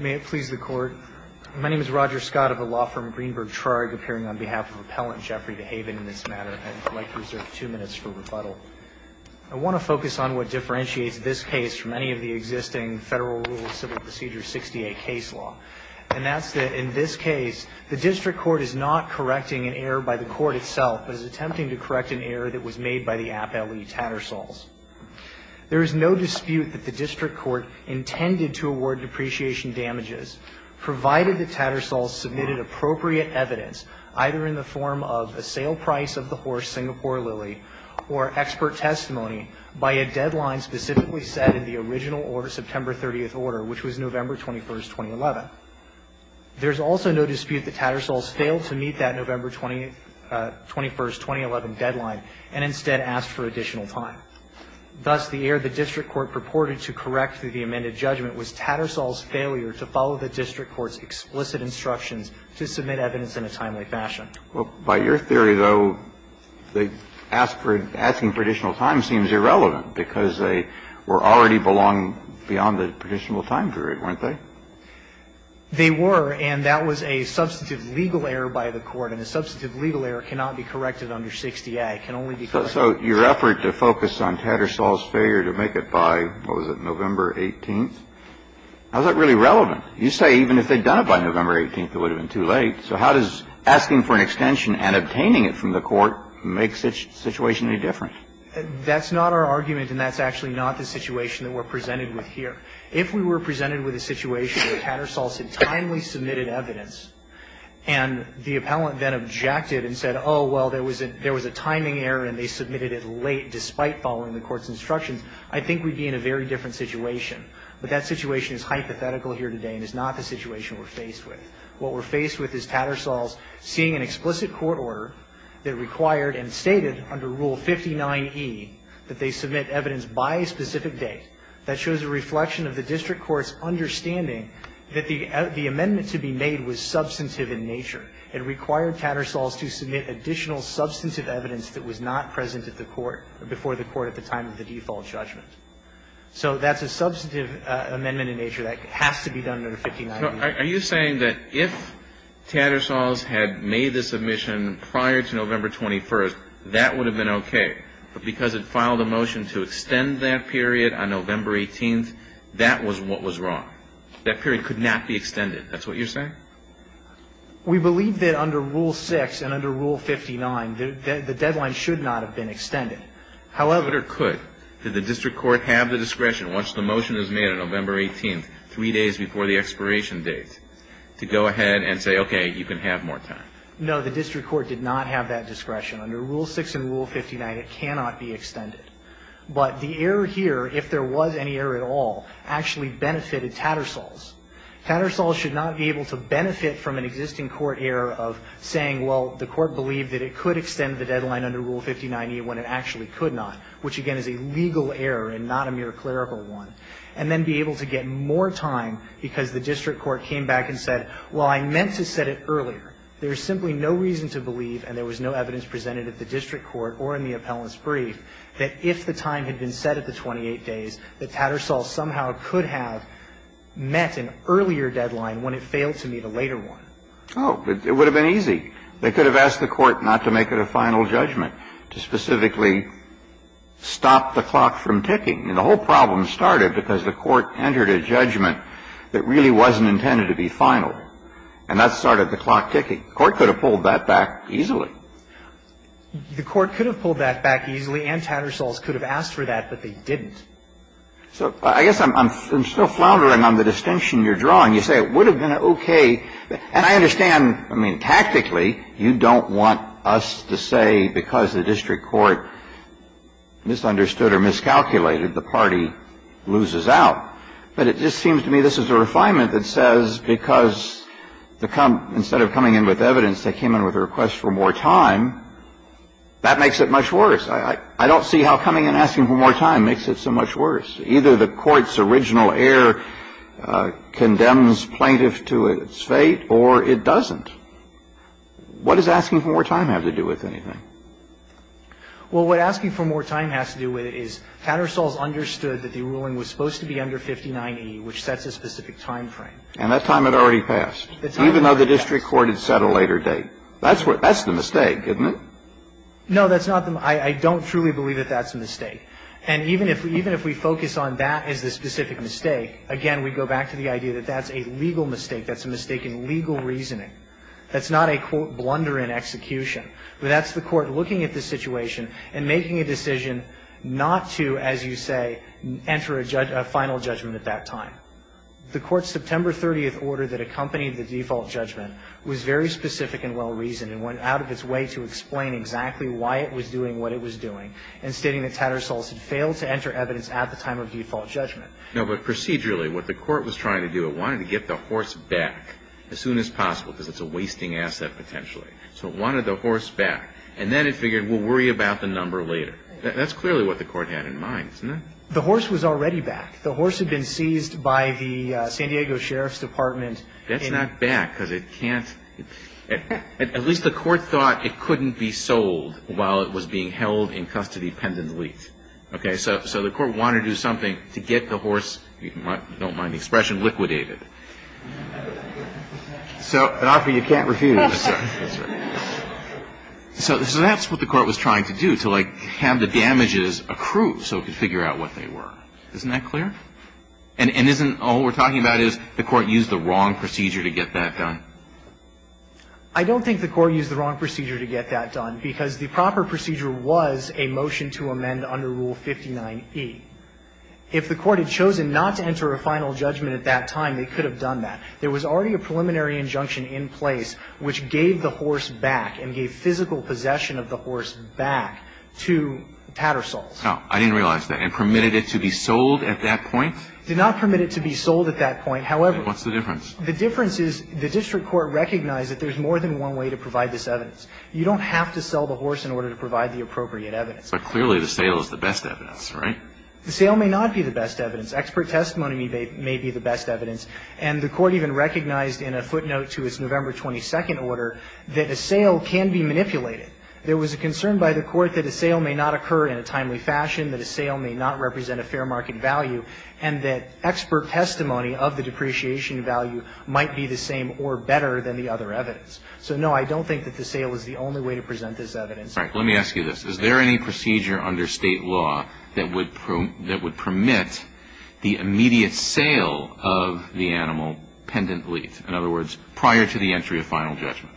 May it please the Court. My name is Roger Scott of the law firm Greenberg Traurig, appearing on behalf of Appellant Jeffrey DeHaven in this matter. I'd like to reserve two minutes for rebuttal. I want to focus on what differentiates this case from any of the existing Federal Rule of Civil Procedure 68 case law. And that's that in this case, the District Court is not correcting an error by the Court itself, but is attempting to correct an error that was made by the Appellee Tattersalls. There is no dispute that the District Court intended to award depreciation damages, provided the Tattersalls submitted appropriate evidence, either in the form of a sale price of the horse, Singapore Lily, or expert testimony by a deadline specifically set in the original September 30th order, which was November 21st, 2011. There's also no dispute that Tattersalls failed to meet that November 21st, 2011 deadline, and instead asked for additional time. Thus, the error the District Court purported to correct through the amended judgment was Tattersalls' failure to follow the District Court's explicit instructions to submit evidence in a timely fashion. Well, by your theory, though, the asking for additional time seems irrelevant, because they were already belonging beyond the predictable time period, weren't they? They were, and that was a substantive legal error by the Court. And a substantive legal error cannot be corrected under 60A. It can only be corrected by the Court. So your effort to focus on Tattersalls' failure to make it by, what was it, November 18th? How is that really relevant? You say even if they'd done it by November 18th, it would have been too late. So how does asking for an extension and obtaining it from the Court make such a situation any different? That's not our argument, and that's actually not the situation that we're presented with here. If we were presented with a situation where Tattersalls had timely submitted evidence and the appellant then objected and said, oh, well, there was a timing error and they submitted it late despite following the Court's instructions, I think we'd be in a very different situation. But that situation is hypothetical here today and is not the situation we're faced with. What we're faced with is Tattersalls seeing an explicit court order that required and stated under Rule 59E that they submit evidence by a specific date. That shows a reflection of the district court's understanding that the amendment to be made was substantive in nature. It required Tattersalls to submit additional substantive evidence that was not present at the Court, before the Court at the time of the default judgment. So that's a substantive amendment in nature that has to be done under 59E. So are you saying that if Tattersalls had made the submission prior to November 21st, that would have been okay, but because it filed a motion to extend that period on November 18th, that was what was wrong? That period could not be extended. That's what you're saying? We believe that under Rule 6 and under Rule 59, the deadline should not have been extended. However... But it could. Did the district court have the discretion once the motion is made on November 18th, three days before the expiration date, to go ahead and say, okay, you can have more time? No. The district court did not have that discretion. Under Rule 6 and Rule 59, it cannot be extended. But the error here, if there was any error at all, actually benefited Tattersalls. Tattersalls should not be able to benefit from an existing court error of saying, well, the Court believed that it could extend the deadline under Rule 59E when it actually could not, which, again, is a legal error and not a mere clerical one, and then be able to get more time because the district court came back and said, well, I meant to set it earlier. There is simply no reason to believe, and there was no evidence presented at the district court or in the appellant's brief, that if the time had been set at the 28 days, that Tattersalls somehow could have met an earlier deadline when it failed to meet a later one. Oh, it would have been easy. They could have asked the court not to make it a final judgment, to specifically stop the clock from ticking. I mean, the whole problem started because the court entered a judgment that really wasn't intended to be final, and that started the clock ticking. The court could have pulled that back easily. The court could have pulled that back easily, and Tattersalls could have asked for that, but they didn't. So I guess I'm still floundering on the distinction you're drawing. You say it would have been okay. And I understand, I mean, tactically, you don't want us to say because the district court misunderstood or miscalculated, the party loses out. But it just seems to me this is a refinement that says because instead of coming in with evidence, they came in with a request for more time, that makes it much worse. I don't see how coming in and asking for more time makes it so much worse. Either the court's original error condemns plaintiff to its fate, or it doesn't. What does asking for more time have to do with anything? Well, what asking for more time has to do with it is Tattersalls understood that the ruling was supposed to be under 59E, which sets a specific time frame. And that time had already passed. Even though the district court had set a later date. That's the mistake, isn't it? No, that's not the mistake. I don't truly believe that that's a mistake. And even if we focus on that as the specific mistake, again, we go back to the idea that that's a legal mistake. That's a mistake in legal reasoning. That's not a, quote, blunder in execution. That's the court looking at the situation and making a decision not to, as you say, enter a final judgment at that time. The court's September 30th order that accompanied the default judgment was very specific and well-reasoned, and went out of its way to explain exactly why it was doing what it was doing, and stating that Tattersalls had failed to enter evidence at the time of default judgment. No, but procedurally, what the court was trying to do, it wanted to get the horse back as soon as possible, because it's a wasting asset, potentially. So it wanted the horse back. And then it figured, we'll worry about the number later. That's clearly what the court had in mind, isn't it? The horse was already back. The horse had been seized by the San Diego Sheriff's Department. That's not back, because it can't. At least the court thought it couldn't be sold while it was being held in custody pendently. Okay? So the court wanted to do something to get the horse, if you don't mind the expression, liquidated. So, and, Arthur, you can't refuse. That's right. That's right. So that's what the court was trying to do, to, like, have the damages accrued so it could figure out what they were. Isn't that clear? And isn't all we're talking about is the court used the wrong procedure to get that done? I don't think the court used the wrong procedure to get that done, because the proper procedure was a motion to amend under Rule 59e. If the court had chosen not to enter a final judgment at that time, they could have done that. There was already a preliminary injunction in place which gave the horse back and gave physical possession of the horse back to Tattersalls. Oh, I didn't realize that. And permitted it to be sold at that point? Did not permit it to be sold at that point. However. What's the difference? The difference is the district court recognized that there's more than one way to provide this evidence. You don't have to sell the horse in order to provide the appropriate evidence. But clearly the sale is the best evidence, right? The sale may not be the best evidence. Expert testimony may be the best evidence. And the court even recognized in a footnote to its November 22nd order that a sale can be manipulated. There was a concern by the court that a sale may not occur in a timely fashion, that a sale may not represent a fair market value, and that expert testimony of the depreciation value might be the same or better than the other evidence. So, no, I don't think that the sale is the only way to present this evidence. Let me ask you this. Is there any procedure under state law that would permit the immediate sale of the animal pendently? In other words, prior to the entry of final judgment?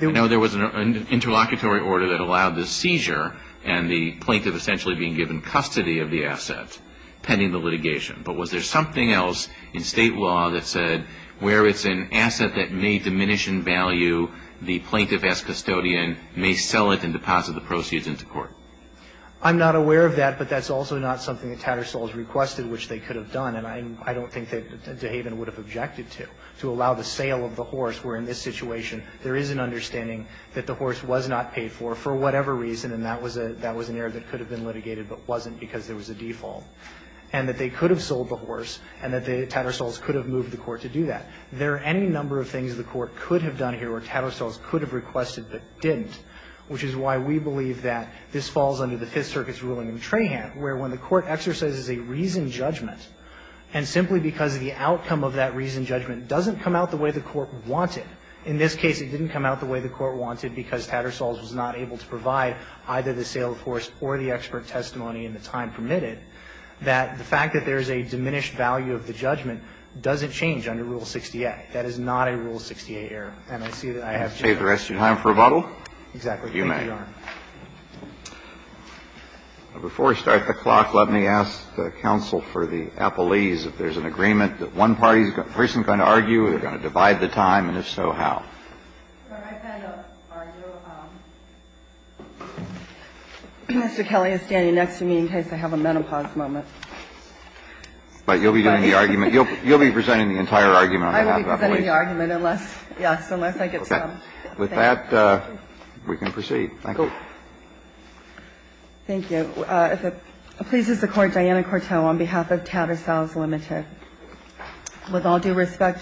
Now, there was an interlocutory order that allowed the seizure and the plaintiff essentially being given custody of the asset pending the litigation. But was there something else in state law that said where it's an asset that may diminish in value, the plaintiff as custodian may sell it and deposit the asset to the court? I'm not aware of that, but that's also not something that Tattersall has requested, which they could have done. And I don't think that DeHaven would have objected to, to allow the sale of the horse where in this situation there is an understanding that the horse was not paid for, for whatever reason, and that was an error that could have been litigated but wasn't because there was a default. And that they could have sold the horse and that the Tattersalls could have moved the court to do that. There are any number of things the court could have done here where Tattersalls could have requested but didn't, which is why we believe that this falls under the Fifth Circuit's ruling in Trahan, where when the court exercises a reasoned judgment, and simply because the outcome of that reasoned judgment doesn't come out the way the court wanted, in this case it didn't come out the way the court wanted because Tattersalls was not able to provide either the sale of the horse or the expert testimony in the time permitted, that the fact that there is a diminished value of the judgment doesn't change under Rule 68. That is not a Rule 68 error. And I see that I have to go. Kennedy. And save the rest of your time for rebuttal? Exactly. You may. Thank you, Your Honor. Before we start the clock, let me ask the counsel for the appellees if there's an agreement that one party's person is going to argue, they're going to divide the time, and if so, how? I'm not going to argue. Mr. Kelly is standing next to me in case I have a menopause moment. But you'll be doing the argument. You'll be presenting the entire argument on behalf of the appellees. I won't be presenting the argument unless, yes, unless I get some. Okay. With that, we can proceed. Thank you. Thank you. If it pleases the Court, Diana Cortot on behalf of Tattersalls Limited. With all due respect,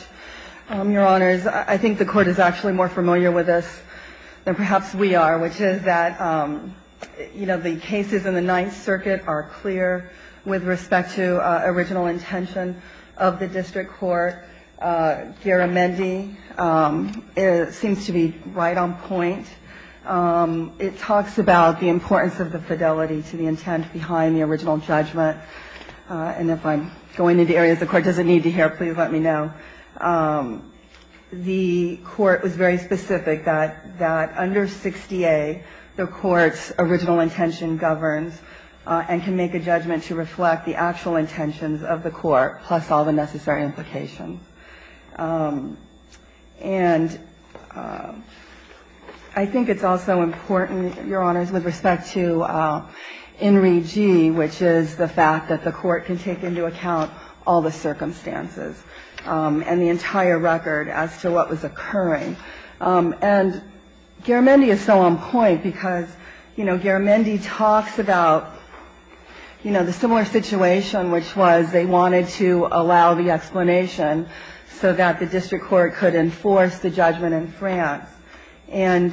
Your Honors, I think the Court is actually more familiar with this than perhaps we are, which is that, you know, the cases in the Ninth Circuit are clear with respect to original intention of the district court. Garamendi seems to be right on point. It talks about the importance of the fidelity to the intent behind the original judgment. And if I'm going into areas the Court doesn't need to hear, please let me know. The Court was very specific that under 60A, the court's original intention governs and can make a judgment to reflect the actual intentions of the court plus all the necessary implications. And I think it's also important, Your Honors, with respect to INRI G, which is the fact that the Court can take into account all the circumstances and the entire record as to what was occurring. And Garamendi is so on point because, you know, Garamendi talks about, you know, the similar situation, which was they wanted to allow the explanation so that the district court could enforce the judgment in France. And,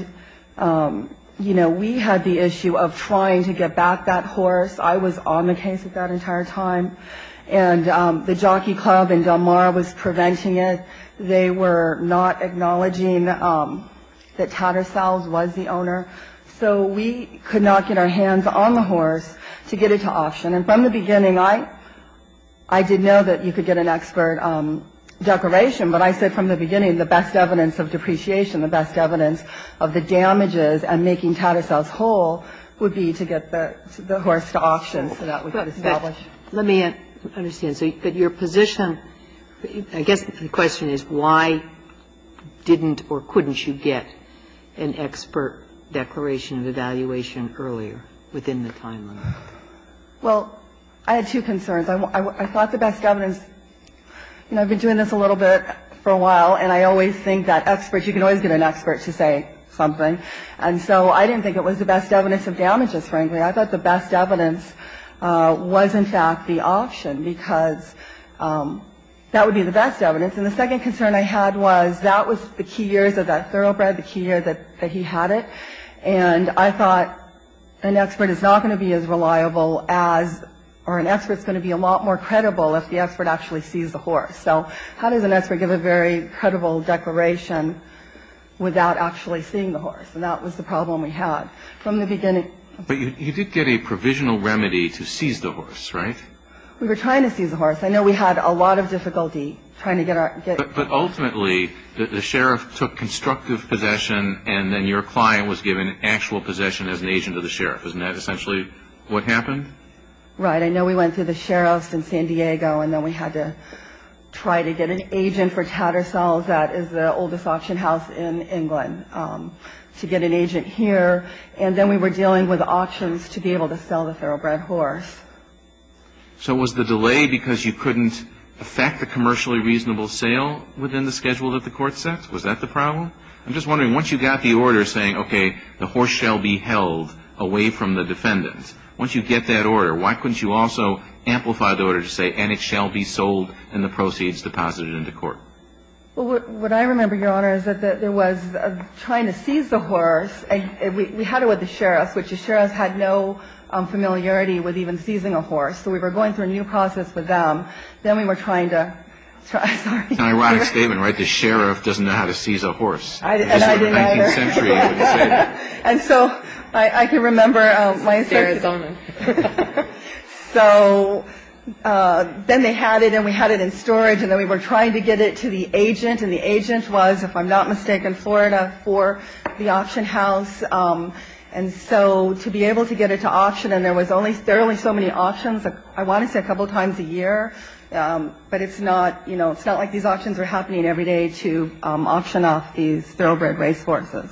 you know, we had the issue of trying to get back that horse. I was on the case that entire time. And the Jockey Club in Del Mar was preventing it. They were not acknowledging that Tattersall was the owner. So we could not get our hands on the horse to get it to auction. And from the beginning, I did know that you could get an expert declaration, but I said from the beginning, the best evidence of depreciation, the best evidence of the damages and making Tattersall's whole would be to get the horse to auction so that we could establish. Ginsburg. Let me understand. So your position, I guess the question is why didn't or couldn't you get an expert declaration of evaluation earlier within the time limit? Well, I had two concerns. I thought the best evidence, you know, I've been doing this a little bit for a while, and I always think that experts, you can always get an expert to say something. And so I didn't think it was the best evidence of damages, frankly. I thought the best evidence was, in fact, the option because that would be the best evidence. And the second concern I had was that was the key years of that thoroughbred, the key year that he had it. And I thought an expert is not going to be as reliable as or an expert is going to be a lot more credible if the expert actually sees the horse. So how does an expert give a very credible declaration without actually seeing the horse? And that was the problem we had from the beginning. But you did get a provisional remedy to seize the horse, right? We were trying to seize the horse. I know we had a lot of difficulty trying to get our ‑‑ But ultimately, the sheriff took constructive possession, and then your client was given actual possession as an agent of the sheriff. Isn't that essentially what happened? Right. I know we went through the sheriff's in San Diego, and then we had to try to get an agent for Tattersall, that is the oldest auction house in England, to get an agent here. And then we were dealing with auctions to be able to sell the thoroughbred horse. So was the delay because you couldn't affect the commercially reasonable sale within the schedule that the court set? Was that the problem? I'm just wondering, once you got the order saying, okay, the horse shall be held away from the defendant, once you get that order, why couldn't you also amplify the order to say, and it shall be sold and the proceeds deposited into court? Well, what I remember, Your Honor, is that there was trying to seize the horse, and we had it with the sheriff, which the sheriff had no familiarity with even seizing a horse. So we were going through a new process with them. Then we were trying to – It's an ironic statement, right? The sheriff doesn't know how to seize a horse. I didn't either. It's the 19th century. And so I can remember – It's Arizona. So then they had it, and we had it in storage, and then we were trying to get it to the agent, and the agent was, if I'm not mistaken, Florida for the auction house. And so to be able to get it to auction, and there was only – there were only so many auctions, I want to say a couple times a year, but it's not – you know, it's not like these auctions were happening every day to auction off these thoroughbred race horses.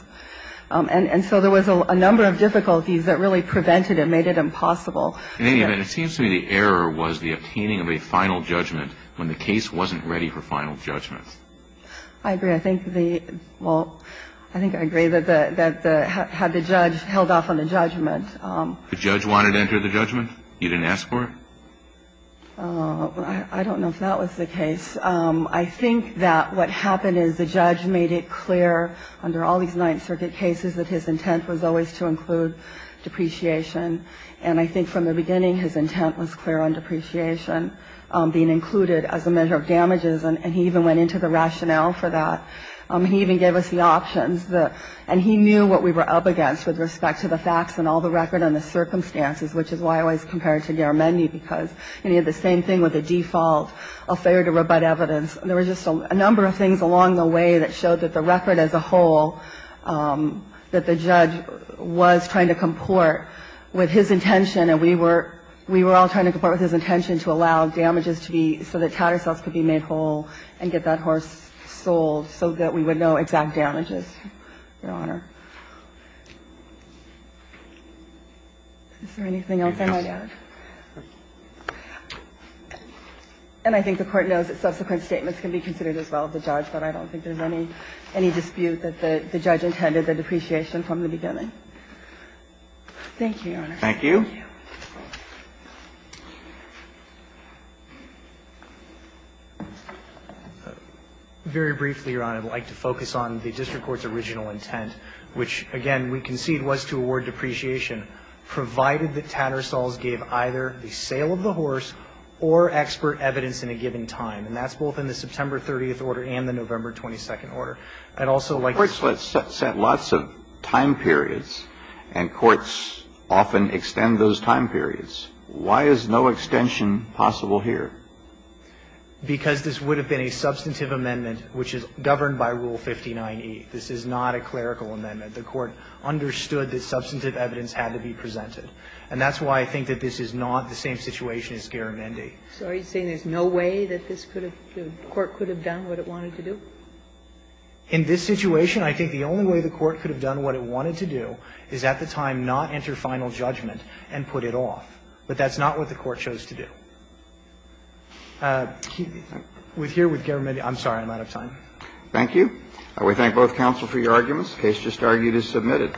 And so there was a number of difficulties that really prevented and made it impossible. In any event, it seems to me the error was the obtaining of a final judgment when the case wasn't ready for final judgment. I agree. I think the – well, I think I agree that the – had the judge held off on the judgment. The judge wanted to enter the judgment? You didn't ask for it? I don't know if that was the case. I think that what happened is the judge made it clear under all these Ninth Circuit cases that his intent was always to include depreciation. And I think from the beginning his intent was clear on depreciation being included as a measure of damages, and he even went into the rationale for that. He even gave us the options. And he knew what we were up against with respect to the facts and all the record and the circumstances, which is why I always compare it to Garamendi, because he had the same thing with the default, a failure to rebut evidence. There were just a number of things along the way that showed that the record as a whole, that the judge was trying to comport with his intention, and we were all trying to comport with his intention to allow damages to be – to be made to the horse and get it sold. And getting the horse made available and get that horse sold so that we would know exact damages, Your Honor. Is there anything else I might add? And I think the Court knows that subsequent statements can be considered as well of the judge, but I don't think there's any dispute that the judge intended the depreciation from the beginning. Thank you, Your Honor. Thank you. Thank you. Very briefly, Your Honor, I'd like to focus on the district court's original intent, which again we concede was to award depreciation, provided that Tattersalls gave either the sale of the horse or expert evidence in a given time. And that's both in the September 30th order and the November 22nd order. I'd also like to say Courts set lots of time periods and courts often extend those time periods. Why is no extension possible here? Because this would have been a substantive amendment which is governed by Rule 59e. This is not a clerical amendment. The Court understood that substantive evidence had to be presented. And that's why I think that this is not the same situation as Garamendi. So are you saying there's no way that this could have been, the Court could have done what it wanted to do? In this situation, I think the only way the Court could have done what it wanted to do is at the time not enter final judgment and put it off. But that's not what the Court chose to do. Here with Garamendi, I'm sorry, I'm out of time. Thank you. We thank both counsel for your arguments. The case just argued is submitted.